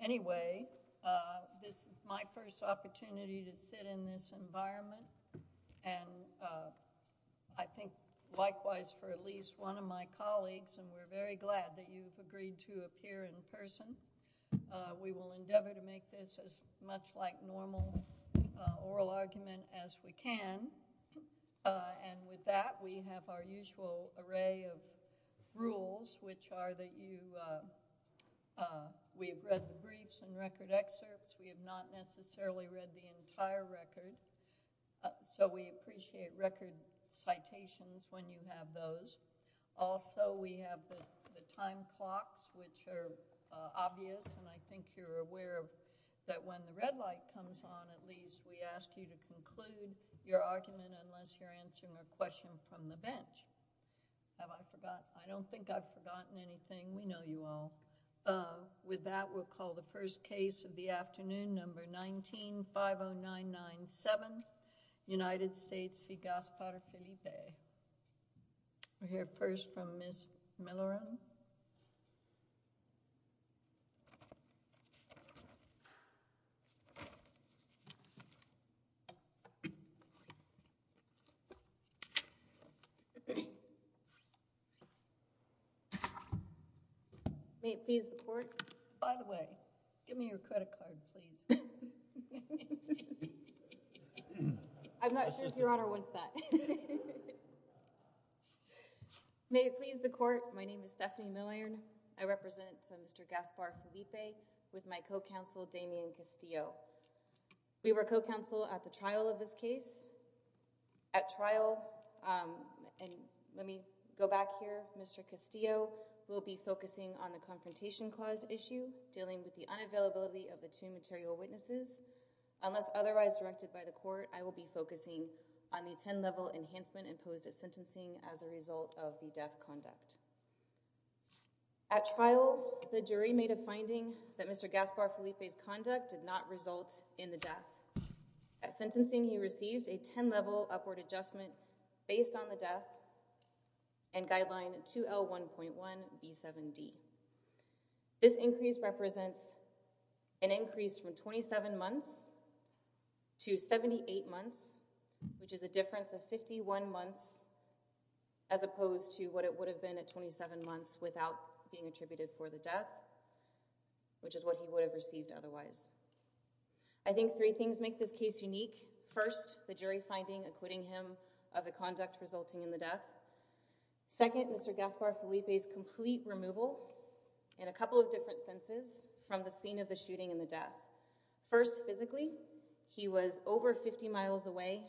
Anyway, this is my first opportunity to sit in this environment, and I think likewise for at least one of my colleagues, and we're very glad that you've agreed to appear in person. We will endeavor to make this as much like normal oral argument as we can, and with that we have our usual array of rules, which are that we have read the briefs and record excerpts. We have not necessarily read the entire record, so we appreciate record citations when you have those. Also we have the time clocks, which are obvious, and I think you're aware that when the red light comes on at least we ask you to conclude your argument unless you're answering a question from the bench. Have I forgotten? I don't think I've forgotten anything. We know you all. With that, we'll call the first case of the afternoon, Number 19-50997, United States v. Gaspar-Felipe. We'll hear first from Ms. Miller. May it please the Court. By the way, give me your credit card, please. I'm not sure if Your Honor wants that. May it please the Court. My name is Stephanie Miller. I represent Mr. Gaspar-Felipe with my co-counsel Damien Castillo. We were co-counsel at the trial of this case. At trial, and let me go back here, Mr. Castillo will be focusing on the Confrontation Clause issue dealing with the unavailability of the two material witnesses. Unless otherwise directed by the Court, I will be focusing on the 10-level enhancement imposed at sentencing as a result of the death conduct. At trial, the jury made a finding that Mr. Gaspar-Felipe's conduct did not result in the death. At sentencing, he received a 10-level upward adjustment based on the death and guideline 2L1.1B7D. This increase represents an increase from 27 months to 78 months, which is a difference of 51 months as opposed to what it would have been at 27 months without being attributed for the death, which is what he would have received otherwise. I think three things make this case unique. First, the jury finding acquitting him of the conduct resulting in the death. Second, Mr. Gaspar-Felipe's complete removal, in a couple of different senses, from the scene of the shooting and the death. First, physically, he was over 50 miles away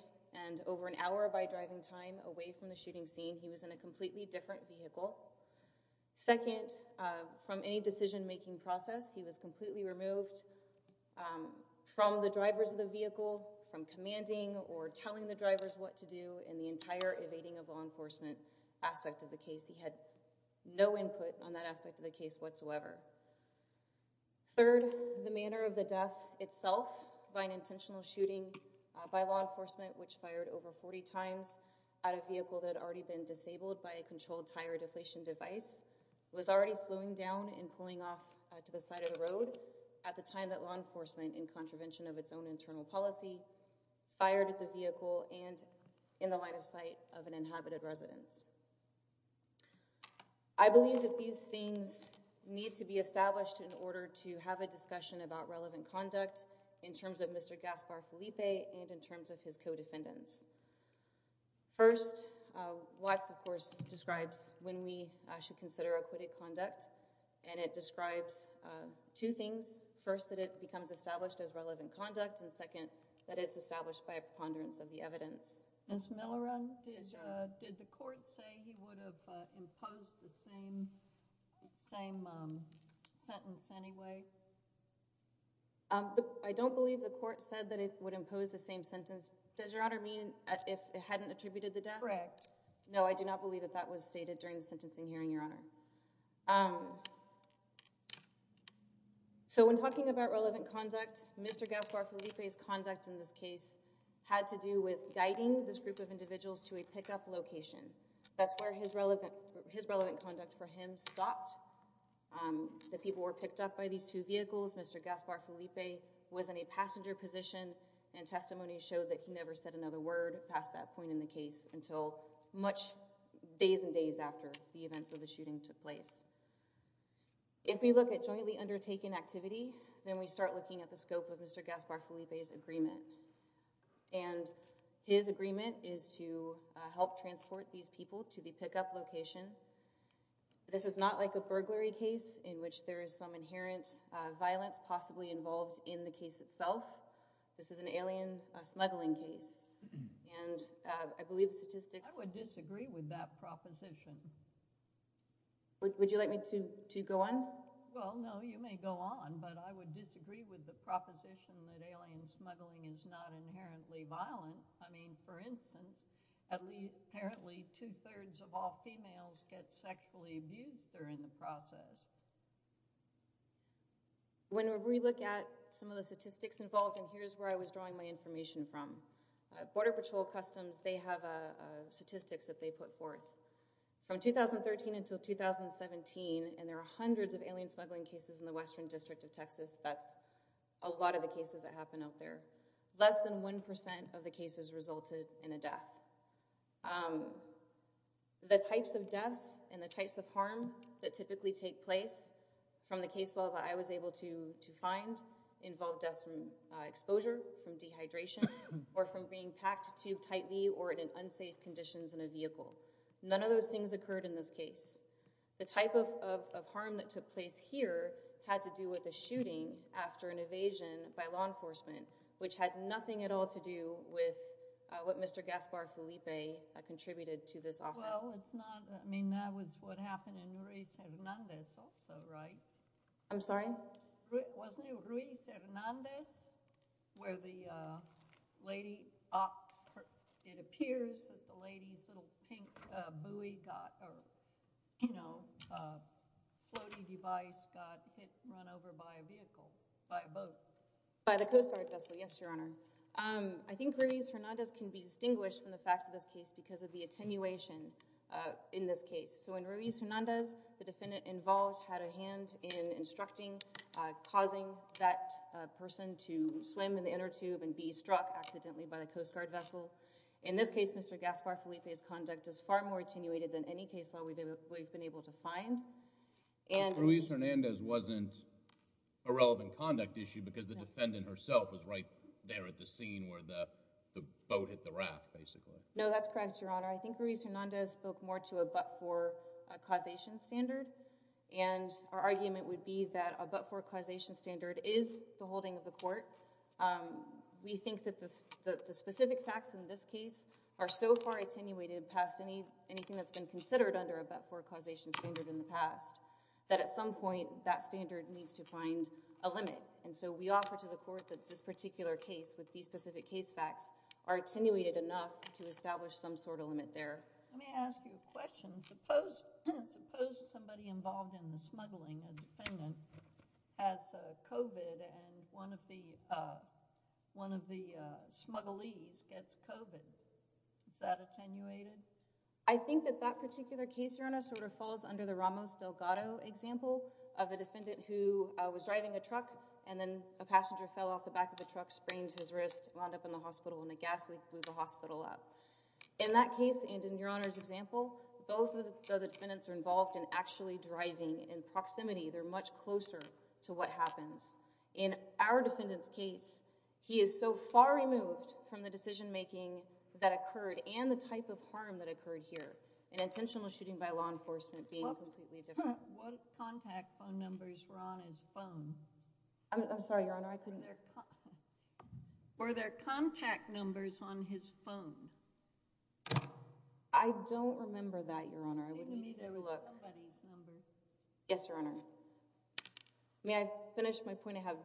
and over an hour by driving time away from the shooting scene. He was in a completely different vehicle. Second, from any decision-making process, he was completely removed from the drivers of the vehicle, from commanding or telling the drivers what to do, and the entire evading of law enforcement aspect of the case. He had no input on that aspect of the case whatsoever. Third, the manner of the death itself, by an intentional shooting by law enforcement, which fired over 40 times at a vehicle that had already been disabled by a controlled tire deflation device. It was already slowing down and pulling off to the side of the road at the time that law enforcement, in contravention of its own internal policy, fired at the vehicle and in the line of sight of an inhabited residence. I believe that these things need to be established in order to have a discussion about relevant conduct in terms of Mr. Gaspar-Felipe and in terms of his co-defendants. First, Watts, of course, describes when we should consider acquitted conduct, and it describes two things. First, that it becomes established as relevant conduct, and second, that it's established by a preponderance of the evidence. Ms. Miller, did the court say he would have imposed the same sentence anyway? I don't believe the court said that it would impose the same sentence. Does Your Honor mean if it hadn't attributed the death? Correct. No, I do not believe that that was stated during the sentencing hearing, Your Honor. So when talking about relevant conduct, Mr. Gaspar-Felipe's conduct in this case had to do with guiding this group of individuals to a pickup location. That's where his relevant conduct for him stopped. The people were picked up by these two vehicles. Mr. Gaspar-Felipe was in a passenger position, and testimony showed that he never said another word past that point in the case until days and days after the events of the shooting took place. If we look at jointly undertaken activity, then we start looking at the scope of Mr. Gaspar-Felipe's activity. His agreement is to help transport these people to the pickup location. This is not like a burglary case in which there is some inherent violence possibly involved in the case itself. This is an alien smuggling case, and I believe statistics... I would disagree with that proposition. Would you like me to go on? Well, no, you may go on, but I would disagree with the proposition that alien smuggling is not inherently violent. I mean, for instance, at least apparently two-thirds of all females get sexually abused during the process. When we look at some of the statistics involved, and here's where I was drawing my information from, Border Patrol Customs, they have statistics that they put forth. From 2013 until 2017, and there are hundreds of alien smuggling cases in the western district of Texas, that's a lot of the cases that happen out there, less than 1% of the cases resulted in a death. The types of deaths and the types of harm that typically take place from the case law that I was able to find involved deaths from exposure, from dehydration, or from being packed too tightly or in unsafe conditions in a vehicle. None of those things occurred in this case. The type of harm that took place here had to do with a shooting after an evasion by law enforcement, which had nothing at all to do with what Mr. Gaspar Felipe contributed to this offense. Well, it's not, I mean, that was what happened in Ruiz Hernandez also, right? I'm sorry? Wasn't it Ruiz Hernandez where the lady, it appears that the lady's little pink buoy got, or floating device got run over by a vehicle, by a boat? By the Coast Guard vessel, yes, Your Honor. I think Ruiz Hernandez can be distinguished from the facts of this case because of the attenuation in this case. So in Ruiz Hernandez, the defendant involved had a hand in instructing, causing that person to swim in the inner tube and be struck accidentally by the Coast Guard vessel. So in this case, Mr. Gaspar Felipe's conduct is far more attenuated than any case law we've been able to find. Ruiz Hernandez wasn't a relevant conduct issue because the defendant herself was right there at the scene where the boat hit the raft, basically. No, that's correct, Your Honor. I think Ruiz Hernandez spoke more to a but-for causation standard, and our argument would be that a but-for causation standard is the holding of the court. We think that the specific facts in this case are so far attenuated past anything that's been considered under a but-for causation standard in the past, that at some point, that standard needs to find a limit. So we offer to the court that this particular case, with these specific case facts, are attenuated enough to establish some sort of limit there. Let me ask you a question. Suppose somebody involved in the smuggling of the defendant has COVID and one of the smugglees gets COVID. Is that attenuated? I think that that particular case, Your Honor, sort of falls under the Ramos Delgado example of a defendant who was driving a truck, and then a passenger fell off the back of the truck, sprained his wrist, wound up in the hospital, and the gas leak blew the hospital up. In that case, and in Your Honor's example, both of the defendants are involved in actually driving in proximity. They're much closer to what happens. In our defendant's case, he is so far removed from the decision-making that occurred and the type of harm that occurred here, an intentional shooting by law enforcement being completely different. What contact phone numbers were on his phone? I'm sorry, Your Honor, I couldn't hear. Were there contact numbers on his phone? I don't remember that, Your Honor. We need to look. Yes, Your Honor. May I finish my point I have?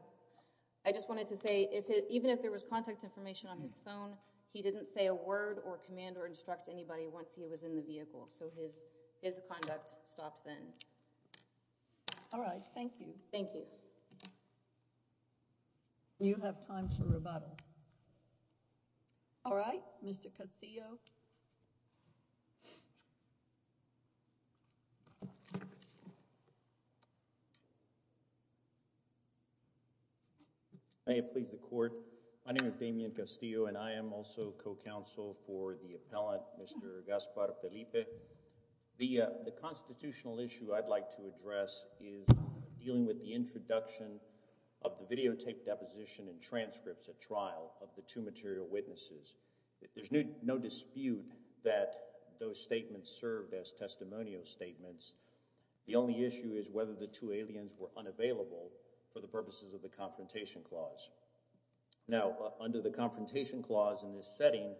I just wanted to say, even if there was contact information on his phone, he didn't say a word or command or instruct anybody once he was in the vehicle, so his conduct stopped then. All right. Thank you. Thank you. You have time for rebuttal. All right. Mr. Castillo. May it please the Court. My name is Damien Castillo, and I am also co-counsel for the appellant, Mr. Gaspar Felipe. The constitutional issue I'd like to address is dealing with the introduction of the videotape deposition and transcripts at trial of the two material witnesses. There's no dispute that those statements served as testimonial statements. The only issue is whether the two aliens were unavailable for the purposes of the Confrontation Clause. Now, under the Confrontation Clause in this setting,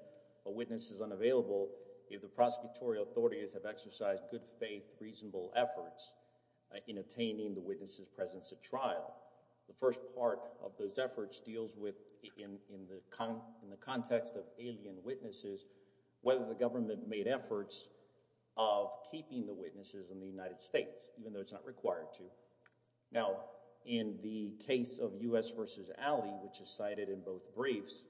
a witness is unavailable if the prosecutorial authorities have exercised good faith, reasonable efforts in attaining the witness's presence at trial. The first part of those efforts deals with, in the context of alien witnesses, whether the government made efforts of keeping the witnesses in the United States, even though it's not required to. Now, in the case of U.S. v. Alley, which is cited in both briefs,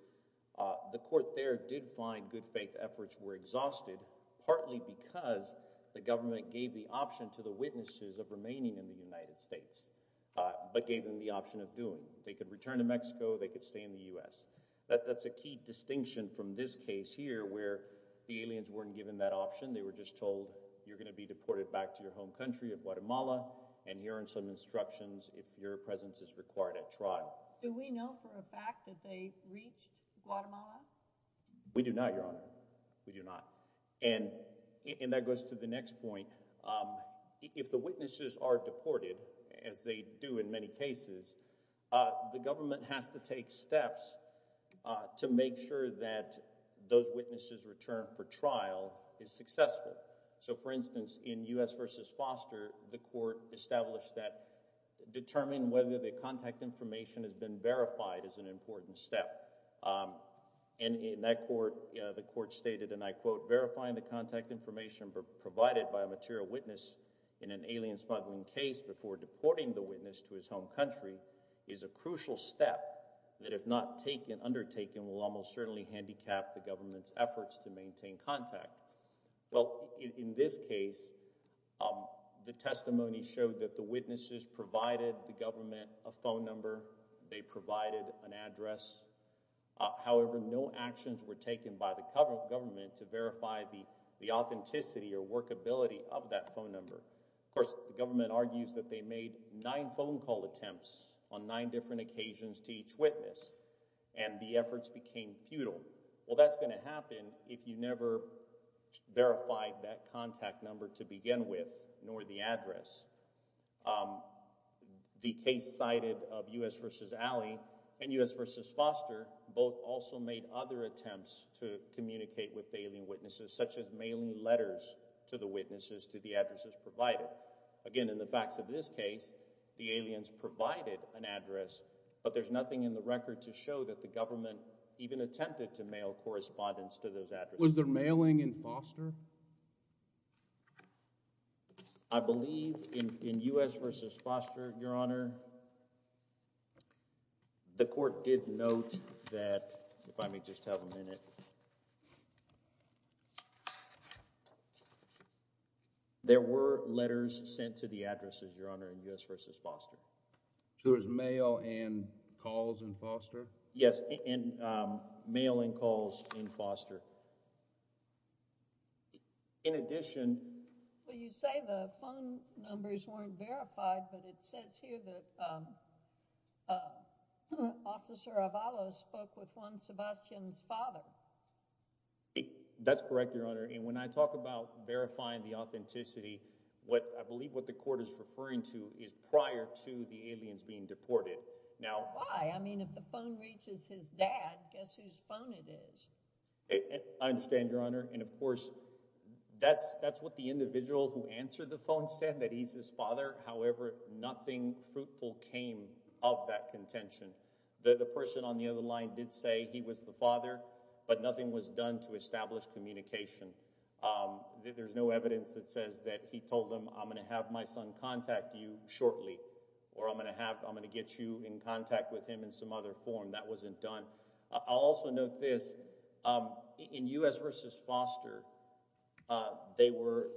the Court there did find good faith efforts were exhausted, partly because the government gave the option to the witnesses of remaining in the United States, but gave them the option of doing it. They could return to Mexico. They could stay in the U.S. That's a key distinction from this case here, where the aliens weren't given that option. They were just told, you're going to be deported back to your home country of Guatemala, and here are some instructions if your presence is required at trial. Do we know for a fact that they reached Guatemala? We do not, Your Honor. We do not. And that goes to the next point. If the witnesses are deported, as they do in many cases, the government has to take steps to make sure that those witnesses' return for trial is successful. So, for instance, in U.S. v. Foster, the Court established that determining whether the contact information has been verified is an important step. And in that court, the Court stated, and I quote, Verifying the contact information provided by a material witness in an alien smuggling case before deporting the witness to his home country is a crucial step that, if not undertaken, will almost certainly handicap the government's efforts to maintain contact. Well, in this case, the testimony showed that the witnesses provided the government a phone number, they provided an address. However, no actions were taken by the government to verify the authenticity or workability of that phone number. Of course, the government argues that they made nine phone call attempts on nine different occasions to each witness, and the efforts became futile. Well, that's going to happen if you never verified that contact number to begin with, nor the address. The case cited of U.S. v. Alley and U.S. v. Foster both also made other attempts to communicate with alien witnesses, such as mailing letters to the witnesses to the addresses provided. Again, in the facts of this case, the aliens provided an address, but there's nothing in the record to show that the government even attempted to mail correspondence to those addresses. Was there mailing in Foster? I believe in U.S. v. Foster, Your Honor, the court did note that, if I may just have a minute, there were letters sent to the addresses, Your Honor, in U.S. v. Foster. So it was mail and calls in Foster? In addition— Well, you say the phone numbers weren't verified, but it says here that Officer Avalos spoke with one Sebastian's father. That's correct, Your Honor, and when I talk about verifying the authenticity, I believe what the court is referring to is prior to the aliens being deported. Now— Why? I mean, if the phone reaches his dad, guess whose phone it is. I understand, Your Honor, and, of course, that's what the individual who answered the phone said, that he's his father. However, nothing fruitful came of that contention. The person on the other line did say he was the father, but nothing was done to establish communication. There's no evidence that says that he told them, I'm going to have my son contact you shortly, or I'm going to get you in contact with him in some other form. That wasn't done. I'll also note this. In U.S. v. Foster, there were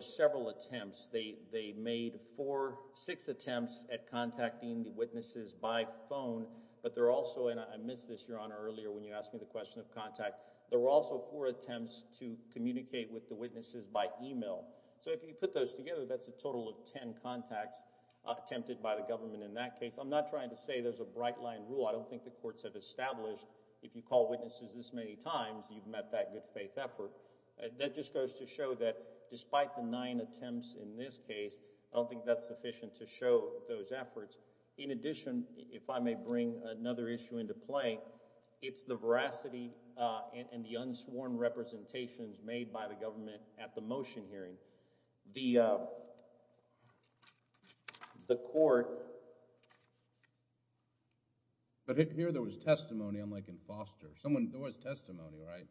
several attempts. They made four, six attempts at contacting the witnesses by phone, but there were also— and I missed this, Your Honor, earlier when you asked me the question of contact— there were also four attempts to communicate with the witnesses by email. So if you put those together, that's a total of ten contacts attempted by the government in that case. I'm not trying to say there's a bright-line rule. I don't think the courts have established, if you call witnesses this many times, you've met that good-faith effort. That just goes to show that despite the nine attempts in this case, I don't think that's sufficient to show those efforts. In addition, if I may bring another issue into play, it's the veracity and the unsworn representations made by the government at the motion hearing. The court— But here there was testimony, unlike in Foster. There was testimony, right?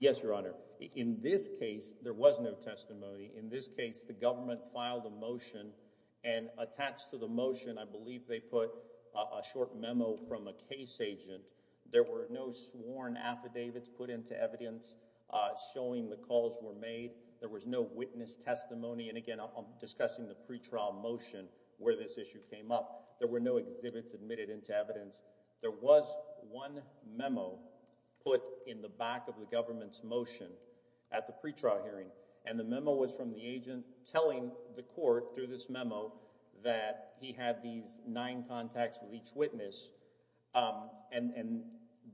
Yes, Your Honor. In this case, there was no testimony. In this case, the government filed a motion, and attached to the motion, I believe they put a short memo from a case agent. There were no sworn affidavits put into evidence showing the calls were made. There was no witness testimony. And again, I'm discussing the pretrial motion where this issue came up. There were no exhibits admitted into evidence. There was one memo put in the back of the government's motion at the pretrial hearing, and the memo was from the agent telling the court through this memo that he had these nine contacts with each witness. And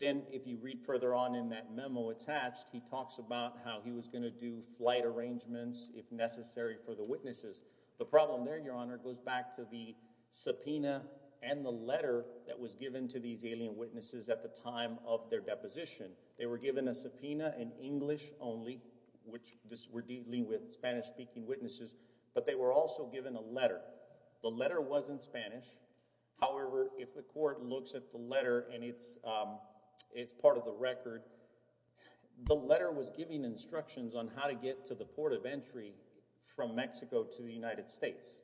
then if you read further on in that memo attached, he talks about how he was going to do flight arrangements if necessary for the witnesses. The problem there, Your Honor, goes back to the subpoena and the letter that was given to these alien witnesses at the time of their deposition. They were given a subpoena in English only, which this—we're dealing with Spanish-speaking witnesses, but they were also given a letter. The letter wasn't Spanish. However, if the court looks at the letter, and it's part of the record, the letter was giving instructions on how to get to the port of entry from Mexico to the United States.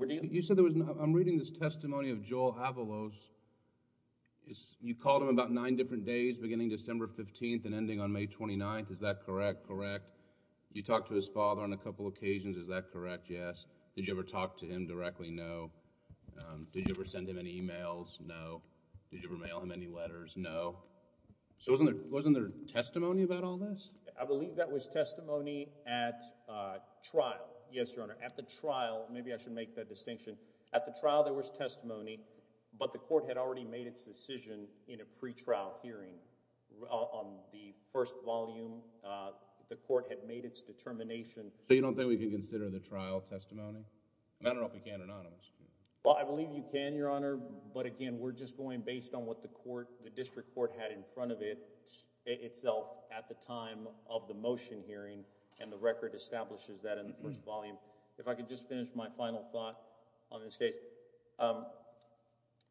You said there was—I'm reading this testimony of Joel Avalos. You called him about nine different days, beginning December 15th and ending on May 29th. Is that correct? Correct. You talked to his father on a couple occasions. Is that correct? Yes. Did you ever talk to him directly? No. Did you ever send him any emails? No. Did you ever mail him any letters? No. So wasn't there testimony about all this? I believe that was testimony at trial. Yes, Your Honor. At the trial—maybe I should make that distinction. At the trial, there was testimony, but the court had already made its decision in a pre-trial hearing. On the first volume, the court had made its determination. So you don't think we can consider the trial testimony? I don't know if we can or not. Well, I believe you can, Your Honor, but again, we're just going based on what the court, the district court had in front of it itself at the time of the motion hearing and the record establishes that in the first volume. If I could just finish my final thought on this case.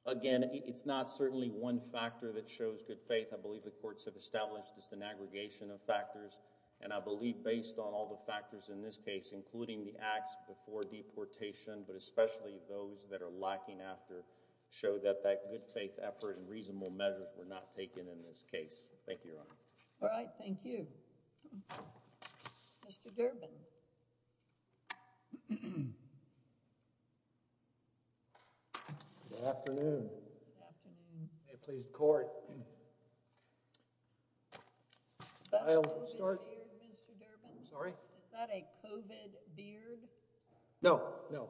Again, it's not certainly one factor that shows good faith. I believe the courts have established just an aggregation of factors, and I believe based on all the factors in this case, including the acts before deportation, but especially those that are lacking after, show that that good faith effort and reasonable measures were not taken in this case. Thank you, Your Honor. All right. Thank you. Mr. Durbin. Good afternoon. Good afternoon. May it please the Court. Is that a COVID beard, Mr. Durbin? Sorry? Is that a COVID beard? No, no.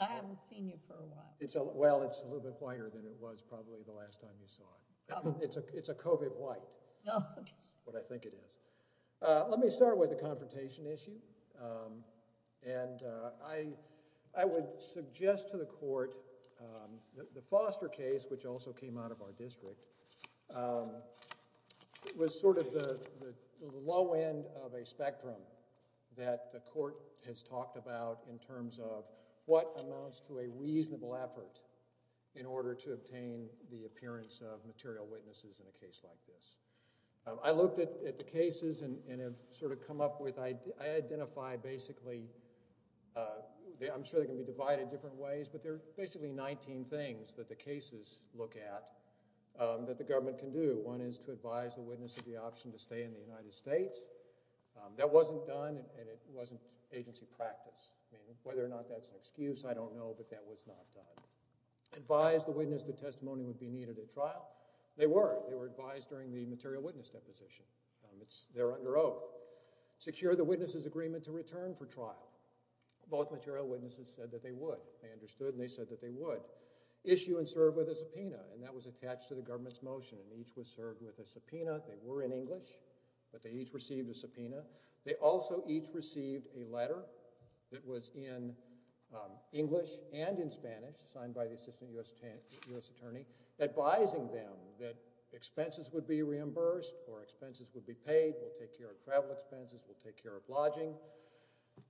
I haven't seen you for a while. Well, it's a little bit whiter than it was probably the last time you saw it. It's a COVID white, is what I think it is. Let me start with the confrontation issue, and I would suggest to the court that the Foster case, which also came out of our district, was sort of the low end of a spectrum that the court has talked about in terms of what amounts to a reasonable effort in order to obtain the appearance of material witnesses in a case like this. I looked at the cases and have sort of come up with... I identify basically... I'm sure they can be divided in different ways, but there are basically 19 things that the cases look at that the government can do. One is to advise the witness of the option to stay in the United States. That wasn't done, and it wasn't agency practice. Whether or not that's an excuse, I don't know, but that was not done. Advise the witness the testimony would be needed at trial. They were. They were advised during the material witness deposition. They're under oath. Secure the witness's agreement to return for trial. Both material witnesses said that they would. They understood, and they said that they would. Issue and serve with a subpoena, and that was attached to the government's motion, and each was served with a subpoena. They were in English, but they each received a subpoena. They also each received a letter that was in English and in Spanish, signed by the assistant U.S. attorney, advising them that expenses would be reimbursed or expenses would be paid. They'll take care of travel expenses. They'll take care of lodging.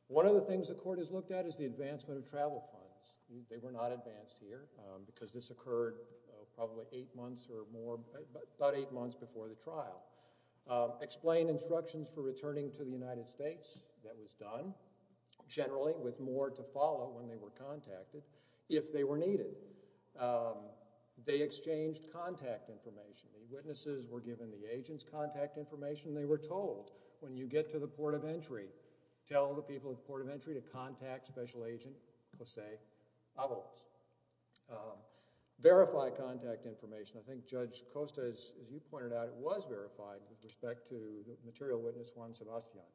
One of the things the court has looked at is the advancement of travel plans. They were not advanced here because this occurred probably eight months or more, about eight months before the trial. Explain instructions for returning to the United States. That was done generally with more to follow when they were contacted, if they were needed. They exchanged contact information. The witnesses were given the agent's contact information, and they were told when you get to the port of entry, tell the people at the port of entry to contact special agent Jose Alvarez. Verify contact information. I think Judge Costa, as you pointed out, it was verified with respect to the material witness Juan Sebastiano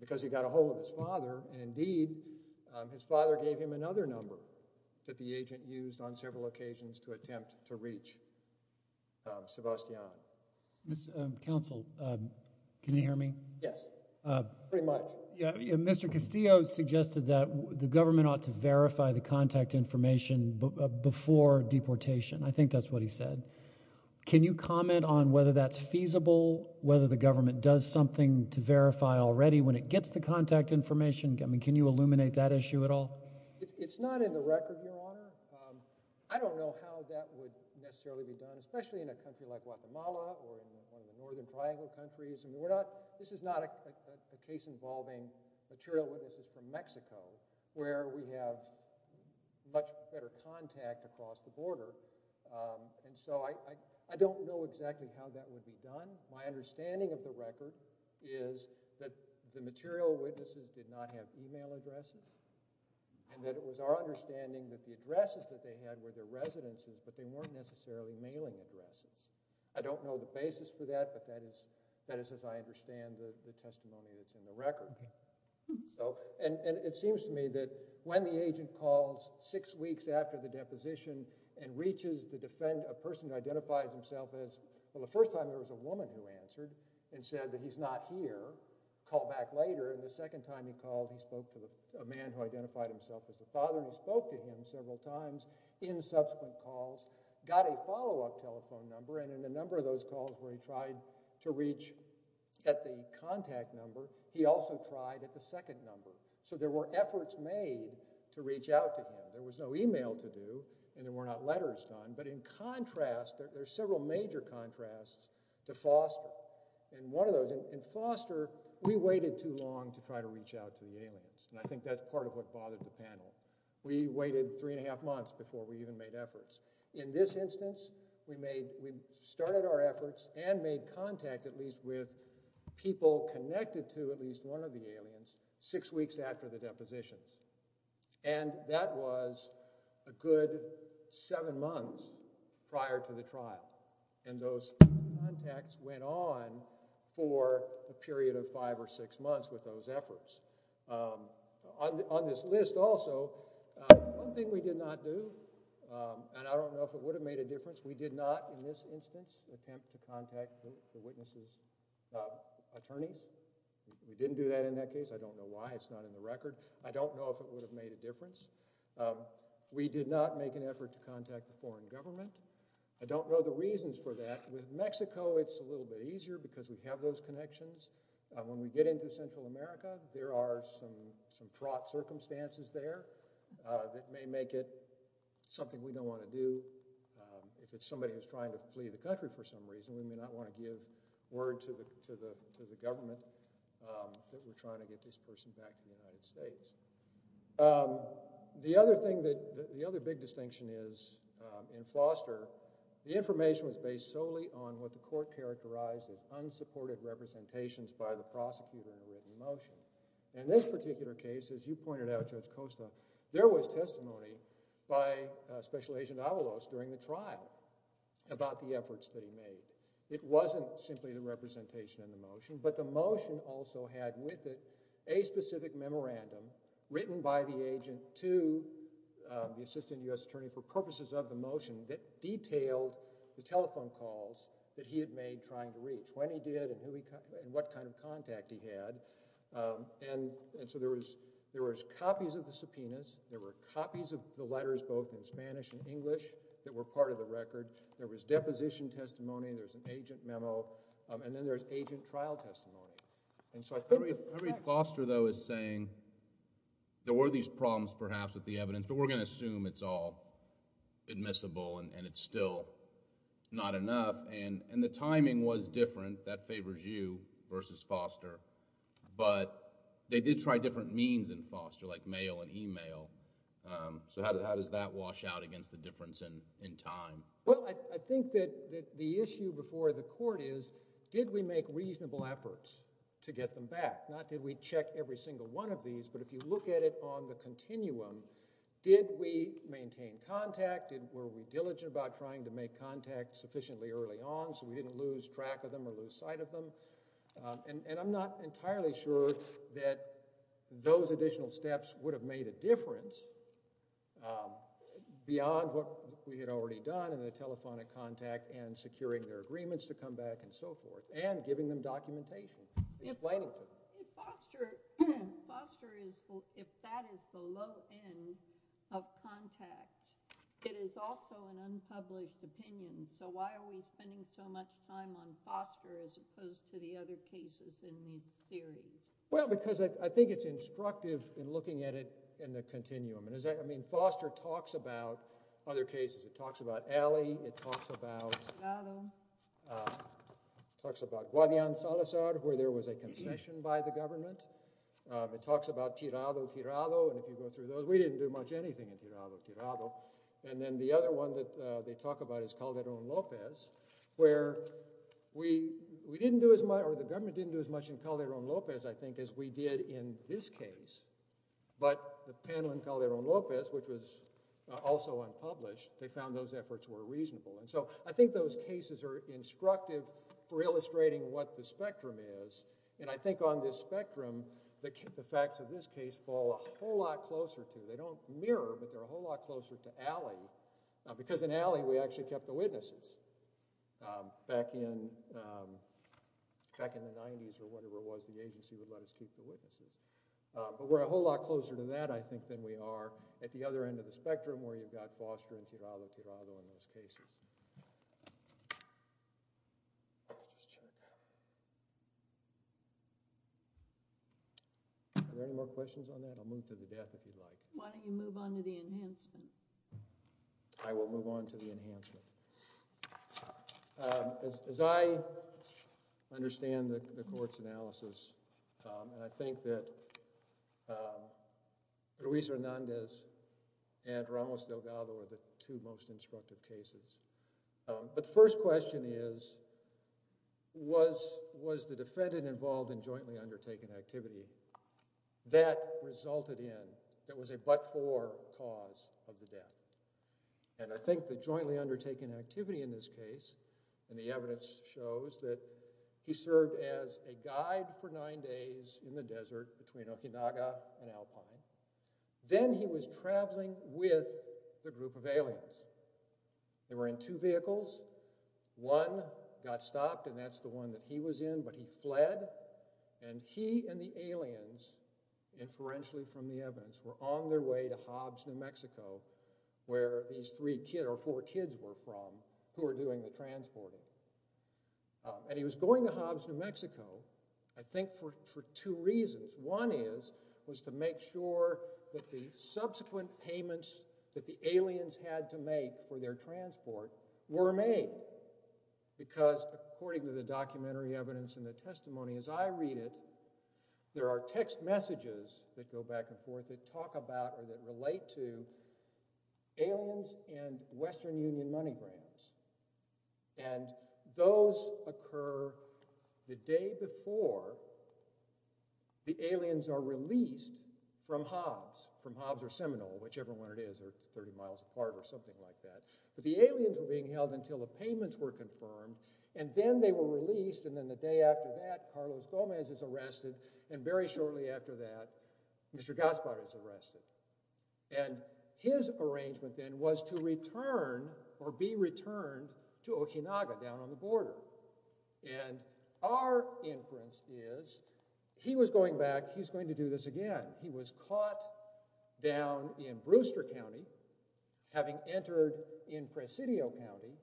because he got a hold of his father. Indeed, his father gave him another number that the agent used on several occasions to attempt to reach Sebastiano. Counsel, can you hear me? Yes, pretty much. Mr. Castillo suggested that the government ought to verify the contact information before deportation. I think that's what he said. Can you comment on whether that's feasible, whether the government does something to verify already when it gets the contact information? Can you illuminate that issue at all? It's not in the record, Your Honor. I don't know how that would necessarily be done, especially in a country like Guatemala or in the northern triangle countries. This is not a case involving material witnesses from Mexico where we have much better contact across the border. I don't know exactly how that would be done. My understanding of the record is that the material witnesses did not have email addresses and that it was our understanding that the addresses that they had were their residencies, but they weren't necessarily mailing addresses. I don't know the basis for that, but that is as I understand the testimony that's in the record. It seems to me that when the agent calls six weeks after the deposition and reaches to defend a person who identifies himself, the first time it was a woman who answered and said that he's not here, called back later. The second time he called, he spoke to a man who identified himself as a father and spoke to him several times in subsequent calls, got a follow-up telephone number. In a number of those calls where he tried to reach at the contact number, he also tried at the second number. So there were efforts made to reach out to him. There was no email to do and there were not letters done. But in contrast, there are several major contrasts to Foster. In Foster, we waited too long to try to reach out to the aliens, and I think that's part of what bothered the panel. We waited three and a half months before we even made efforts. In this instance, we started our efforts and made contact at least with people connected to at least one of the aliens six weeks after the depositions, and that was a good seven months prior to the trial, and those contacts went on for a period of five or six months with those efforts. On this list also, one thing we did not do, and I don't know if it would have made a difference, which we did not in this instance attempt to contact the witnesses' attorneys. We didn't do that in that case. I don't know why it's not in the record. I don't know if it would have made a difference. We did not make an effort to contact the foreign government. I don't know the reasons for that. With Mexico, it's a little bit easier because we have those connections. When we get into Central America, there are some fraught circumstances there that may make it something we don't want to do. If it's somebody who's trying to flee the country for some reason, we do not want to give word to the government that we're trying to get this person back to the United States. The other big distinction is in Foster, the information was based solely on what the court characterized as unsupported representations by the prosecutor in the written motion. In this particular case, as you pointed out, Judge Costa, there was testimony by Special Agent Avalos during the trial about the efforts that he made. It wasn't simply the representation in the motion, but the motion also had with it a specific memorandum written by the agent to the assistant U.S. attorney for purposes of the motion that detailed the telephone calls that he had made trying to reach, what he did and what kind of contact he had. There was copies of the subpoenas. There were copies of the letters, both in Spanish and English, that were part of the record. There was deposition testimony. There was an agent memo. Then there was agent trial testimony. I think the question... I read Foster, though, as saying there were these problems perhaps with the evidence, but we're going to assume it's all admissible and it's still not enough. The timing was different. That favors you versus Foster. But they did try different means in Foster, like mail and email. How does that wash out against the difference in time? Well, I think that the issue before the court is, did we make reasonable efforts to get them back? Not did we check every single one of these, but if you look at it on the continuum, did we maintain contact? Were we diligent about trying to make contact sufficiently early on so we didn't lose track of them or lose sight of them? I'm not entirely sure that those additional steps would have made a difference beyond what we had already done in the telephonic contact and securing their agreements to come back and so forth and giving them documentation. Foster, if that is the low end of contact, it is also an unpublished opinion. So why are we spending so much time on Foster as opposed to the other cases in these theories? Well, because I think it's instructive in looking at it in the continuum. I mean, Foster talks about other cases. It talks about Alley. It talks about Guadian-Salazar, where there was a concession by the government. It talks about Tirado-Tirado, and if you go through those, we didn't do much anything in Tirado-Tirado. And then the other one that they talk about is Calderón-López, where the government didn't do as much in Calderón-López, I think, as we did in this case. But the panel in Calderón-López, which was also unpublished, they found those efforts were reasonable. And so I think those cases are instructive for illustrating what the spectrum is, and I think on this spectrum, the facts of this case fall a whole lot closer to. They don't mirror, but they're a whole lot closer to Alley, because in Alley, we actually kept the witnesses. Back in the 90s or whatever it was, the agency would let us keep the witnesses. But we're a whole lot closer to that, I think, than we are at the other end of the spectrum, where you've got Foster and Tirado-Tirado in those cases. Are there any more questions on that? I'll move to the death, if you'd like. Why don't you move on to the enhancement? I will move on to the enhancement. As I understand the court's analysis, and I think that Ruiz-Hernández and Ramos-Delgado are the two most instructive cases. But the first question is, was the defendant involved in jointly undertaken activity that resulted in, that was a but-for cause of the death? And I think the jointly undertaken activity in this case, and the evidence shows that he served as a guide for nine days in the desert between Okinawa and Alpine. Then he was traveling with a group of aliens. They were in two vehicles. One got stopped, and that's the one that he was in, but he fled, and he and the aliens, inferentially from the evidence, were on their way to Hobbs, New Mexico, where these three or four kids were from, who were doing the transporting. And he was going to Hobbs, New Mexico, I think for two reasons. One is, was to make sure that the subsequent payments that the aliens had to make for their transport were made. Because according to the documentary evidence and the testimony, as I read it, there are text messages that go back and forth that talk about or that relate to aliens and Western Union money grabbers. And those occur the day before the aliens are released from Hobbs, from Hobbs or Seminole, whichever one it is, or 30 miles apart or something like that. But the aliens were being held until the payments were confirmed, and then they were released, and then the day after that, Carlos Gomez is arrested, and very shortly after that, Mr. Gaspar is arrested. And his arrangement then was to return or be returned to Okinawa down on the border. And our inference is, he was going back, he was going to do this again. He was caught down in Brewster County, having entered in Presidio County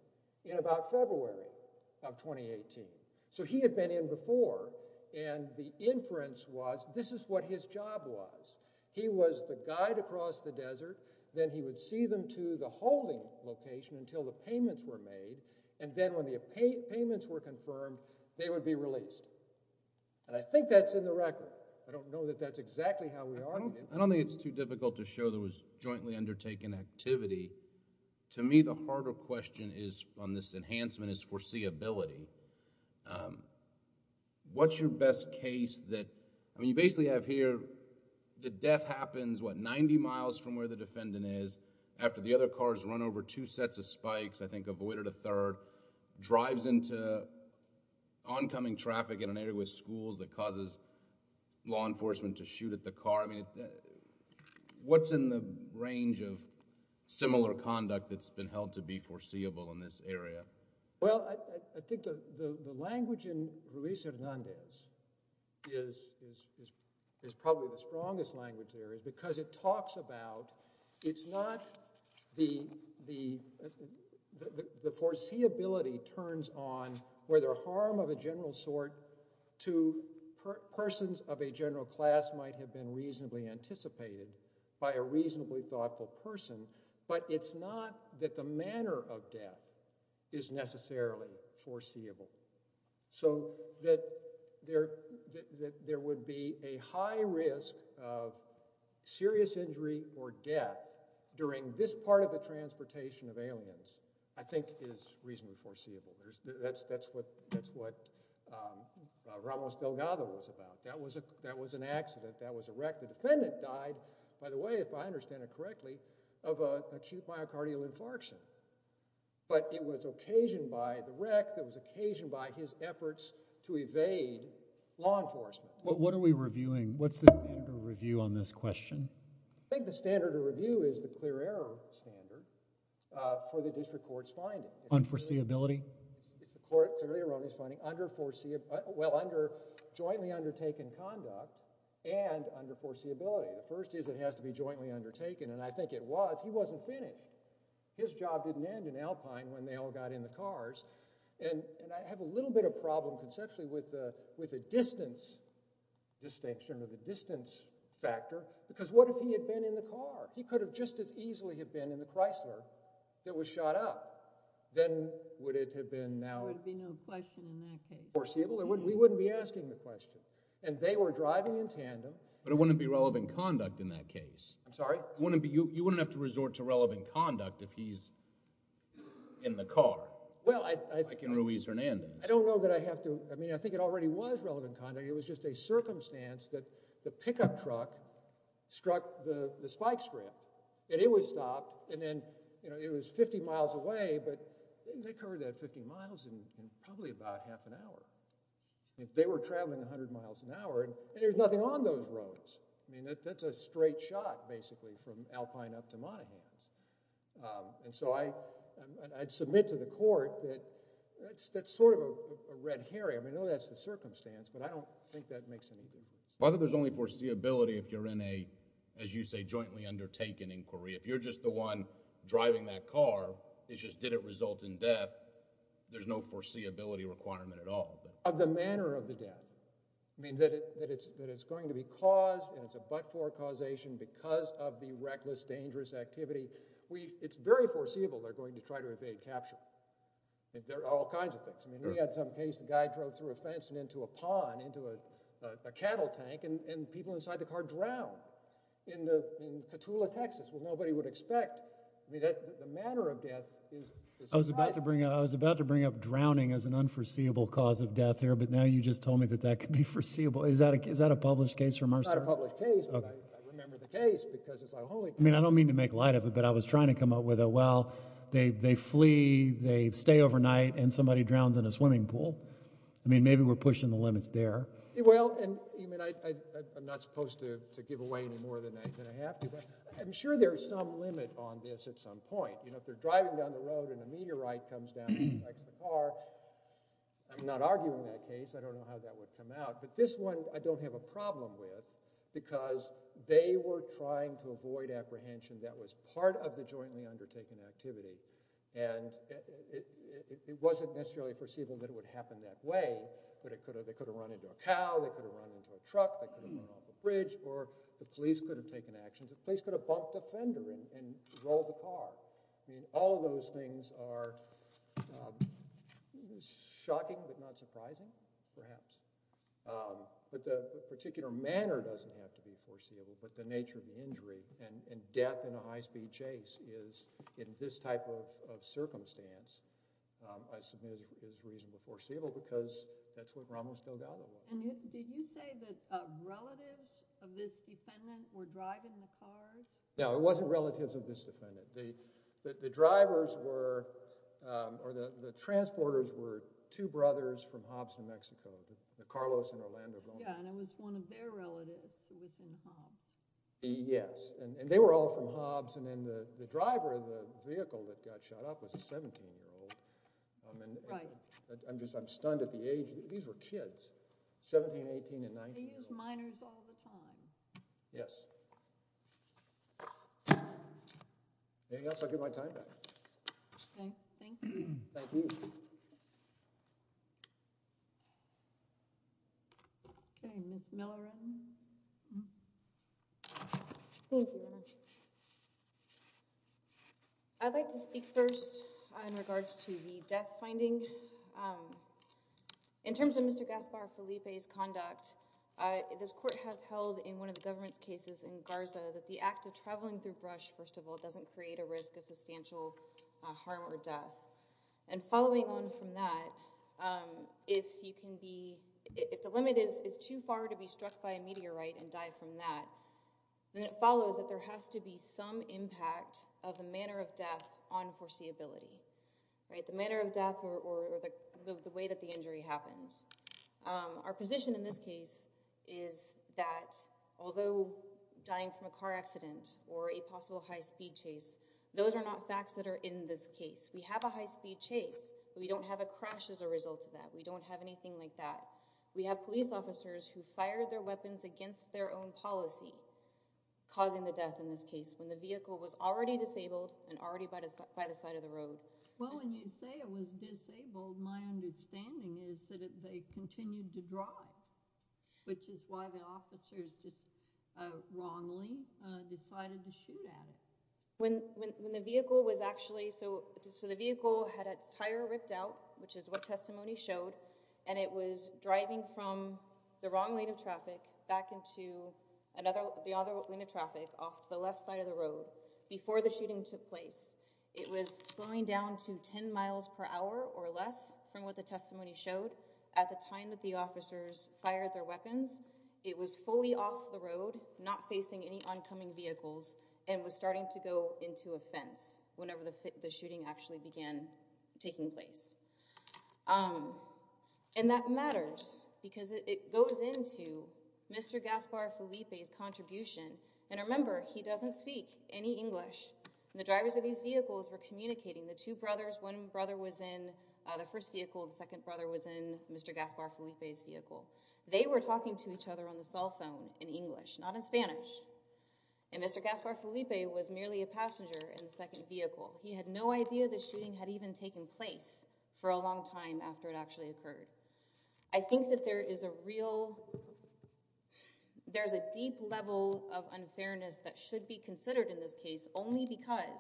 in about February of 2018. So he had been in before, and the inference was, this is what his job was. He was the guide across the desert, then he would see them to the holding location until the payments were made, and then when the payments were confirmed, they would be released. And I think that's in the record. I don't know that that's exactly how we argued it. I don't think it's too difficult to show there was jointly undertaken activity. To me, the harder question on this enhancement is foreseeability. What's your best case that... I mean, you basically have here, the death happens, what, ninety miles from where the defendant is, after the other car has run over two sets of spikes, I think avoided a third, drives into oncoming traffic in an area with schools that causes law enforcement to shoot at the car. I mean, what's in the range of similar conduct that's been held to be foreseeable in this area? Well, I think the language in Ruiz-Hernandez is probably the strongest language here because it talks about... it's not the... the foreseeability turns on whether harm of a general sort to persons of a general class might have been reasonably anticipated by a reasonably thoughtful person, but it's not that the manner of death is necessarily foreseeable. So that there would be a high risk of serious injury or death during this part of the transportation of aliens I think is reasonably foreseeable. That's what Ramos Delgado was about. That was an accident. That was a wreck. The defendant died, by the way, if I understand it correctly, of acute myocardial infarction. But it was occasioned by the wreck. It was occasioned by his efforts to evade law enforcement. What are we reviewing? What's the standard of review on this question? I think the standard of review is the clear error standard for the district court's finding. On foreseeability? The district court's finding under foreseeable... well, under jointly undertaken conduct and under foreseeability. The first is it has to be jointly undertaken, and I think it was. He wasn't finished. His job didn't end in Alpine when they all got in the cars. And I have a little bit of problem conceptually with the distance, distinction of the distance factor, because what if he had been in the car? He could have just as easily have been in the Chrysler that was shot up. Then would it have been now... There would be no question in that case. We wouldn't be asking the question. And they were driving in tandem. But it wouldn't be relevant conduct in that case. I'm sorry? You wouldn't have to resort to relevant conduct if he's in the car, like in Ruiz-Hernandez. I don't know that I have to... I mean, I think it already was relevant conduct. It was just a circumstance that the pickup truck struck the spike strip, and it was stopped, and then it was 50 miles away, but they covered that 50 miles in probably about half an hour. They were traveling 100 miles an hour, and there was nothing on those roads. I mean, that's a straight shot, basically, from Alpine up to Monahans. And so I'd submit to the court that that's sort of a red herring. I mean, I know that's the circumstance, but I don't think that makes any difference. But there's only foreseeability if you're in a, as you say, jointly undertaken inquiry. If you're just the one driving that car, it just didn't result in death, there's no foreseeability requirement at all. Of the manner of the death. I mean, that it's going to be caused, and it's a but-for causation because of the reckless, dangerous activity. It's very foreseeable they're going to try to evade capture. I mean, there are all kinds of things. I mean, we had some case, the guy drove through a fence and into a pond, into a cattle tank, and people inside the car drowned in Petula, Texas, which nobody would expect. I mean, the manner of death is surprising. I was about to bring up drowning as an unforeseeable cause of death here, but now you just told me that that could be foreseeable. Is that a published case from our side? It's not a published case, but I remember the case because it's a holy case. I mean, I don't mean to make light of it, but I was trying to come up with it. Well, they flee, they stay overnight, and somebody drowns in a swimming pool. I mean, maybe we're pushing the limits there. Well, I'm not supposed to give away any more than I have to, but I'm sure there's some limit on this at some point. You know, if they're driving down the road and a meteorite comes down next to the car, well, I'm not arguing that case. I don't know how that would come out, but this one I don't have a problem with because they were trying to avoid apprehension that was part of the jointly undertaken activity, and it wasn't necessarily perceivable that it would happen that way, but they could have run into a cow, they could have run into a truck, they could have run off a bridge, or the police could have taken action. The police could have bumped a fender and rolled the car. I mean, all of those things are shocking, but not surprising, perhaps. But the particular manner doesn't have to be foreseeable, but the nature of the injury and death in a high-speed chase is, in this type of circumstance, a significant reason to foreseeable because that's what we're almost no doubt about. And did you say that relatives of this defendant were driving the cars? No, it wasn't relatives of this defendant. The drivers were, or the transporters, were two brothers from Hobbs, New Mexico, the Carlos and Orlando. Yeah, and it was one of their relatives who was in Hobbs. Yes, and they were all from Hobbs, and then the driver of the vehicle that got shot up was a 17-year-old. Right. I'm just, I'm stunned at the age. These were kids, 17, 18, and 19. They used minors all the time. Yes. Anything else? I'll give my time back. Okay, thank you. Thank you. Okay, Ms. Miller. Thank you very much. I'd like to speak first in regards to the death finding. In terms of Mr. Gaspar Felipe's conduct, this court has held in one of the government's cases in Garza that the act of traveling through brush, first of all, doesn't create a risk of substantial harm or death. And following on from that, if you can be, if the limit is too far to be struck by a meteorite and die from that, then it follows that there has to be some impact of the manner of death on foreseeability. Right, the manner of death or the way that the injury happens. Our position in this case is that although dying from a car accident or a possible high-speed chase, those are not facts that are in this case. We have a high-speed chase. We don't have a crash as a result of that. We don't have anything like that. We have police officers who fire their weapons against their own policy, causing the death in this case, when the vehicle was already disabled and already by the side of the road. Well, when you say it was disabled, my understanding is that they continued to drive, which is why the officers wrongly decided to shoot at it. When the vehicle was actually, so the vehicle had its tire ripped out, which is what testimony showed, and it was driving from the wrong lane of traffic back into the other lane of traffic off the left side of the road before the shooting took place. It was slowing down to 10 miles per hour or less from what the testimony showed at the time that the officers fired their weapons. It was fully off the road, not facing any oncoming vehicles, and was starting to go into a fence whenever the shooting actually began taking place. And that matters because it goes into Mr. Gaspar Felipe's contribution. And remember, he doesn't speak any English. The drivers of these vehicles were communicating. The two brothers, one brother was in the first vehicle, the second brother was in Mr. Gaspar Felipe's vehicle. They were talking to each other on the cell phone in English, not in Spanish. And Mr. Gaspar Felipe was merely a passenger in the second vehicle. He had no idea the shooting had even taken place for a long time after it actually occurred. I think that there is a real, there's a deep level of unfairness that should be considered in this case only because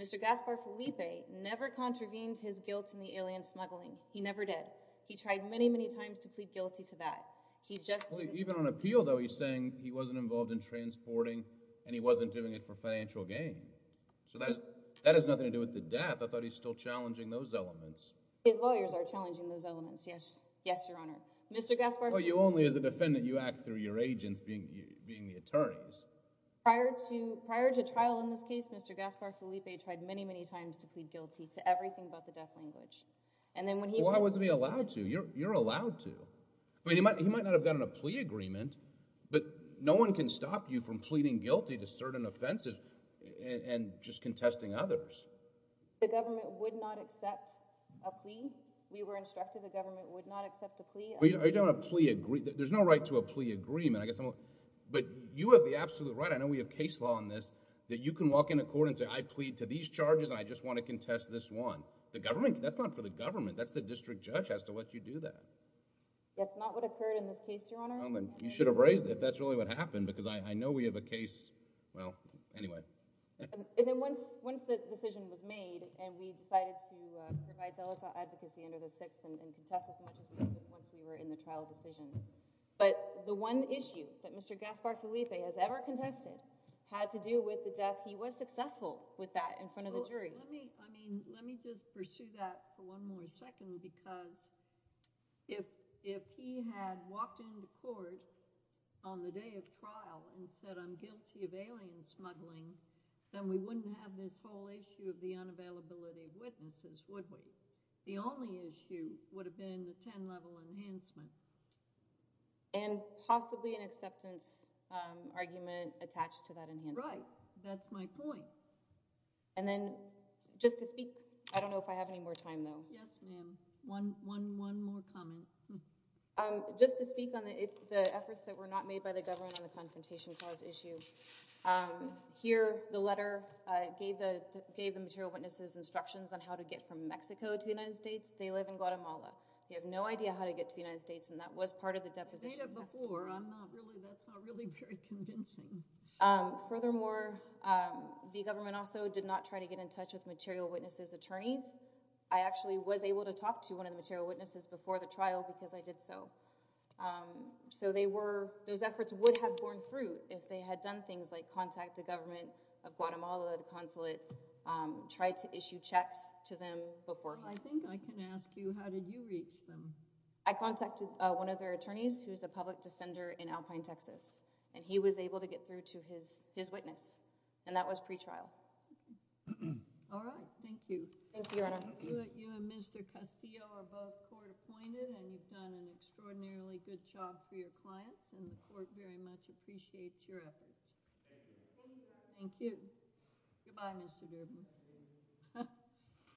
Mr. Gaspar Felipe never contravened his guilt in the alien smuggling. He never did. He tried many, many times to plead guilty to that. He just didn't. Even on appeal, though, he's saying he wasn't involved in transporting and he wasn't doing it for financial gain. So that has nothing to do with the death. I thought he's still challenging those elements. His lawyers are challenging those elements, yes. Yes, Your Honor. Mr. Gaspar Felipe... Well, you only, as a defendant, you act through your agents being the attorneys. Prior to trial in this case, Mr. Gaspar Felipe tried many, many times to plead guilty to everything but the death language. Why wasn't he allowed to? You're allowed to. He might not have gotten a plea agreement, but no one can stop you from pleading guilty to certain offenses and just contesting others. The government would not accept a plea. We were instructed the government would not accept a plea. Are you talking about a plea agreement? There's no right to a plea agreement. But you have the absolute right, I know we have case law on this, that you can walk into court and say, I plead to these charges and I just want to contest this one. The government, that's not for the government. That's the district judge has to let you do that. That's not what occurred in this case, Your Honor. You should have raised it if that's really what happened because I know we have a case, well, anyway. And then once the decision was made and we decided to provide delegate advocacy under the Sixth and contested cases once we were in the trial decision. But the one issue that Mr. Gaspar Felipe has ever contested had to do with the death. He was successful with that in front of the jury. Let me just pursue that for one more second because if he had walked into court on the day of trial and said, I'm guilty of alien smuggling, then we wouldn't have this whole issue of the unavailability of witnesses, would we? The only issue would have been the 10-level enhancement. And possibly an acceptance argument attached to that enhancement. Right, that's my point. And then just to speak, I don't know if I have any more time, though. Yes, ma'am. One more comment. Just to speak on the efforts that were not made by the government on the Confrontation Clause issue. Here, the letter gave the material witnesses instructions on how to get from Mexico to the United States. They live in Guatemala. They have no idea how to get to the United States and that was part of the deposition testimony. Data before. I'm not really, that's not really very convincing. Furthermore, the government also did not try to get in touch with material witnesses' attorneys. I actually was able to talk to one of the material witnesses before the trial because I did so. So they were, those efforts would have borne fruit if they had done things like contact the government of Guatemala, the consulate, try to issue checks to them before. I think I can ask you, how did you reach them? I contacted one of their attorneys who is a public defender in Alpine, Texas. And he was able to get through to his witness. And that was pre-trial. All right, thank you. Thank you, Your Honor. You and Mr. Castillo are both court-appointed and you've done an extraordinarily good job for your clients and the court very much appreciates your efforts. Thank you. Thank you. Goodbye, Mr. Goodman.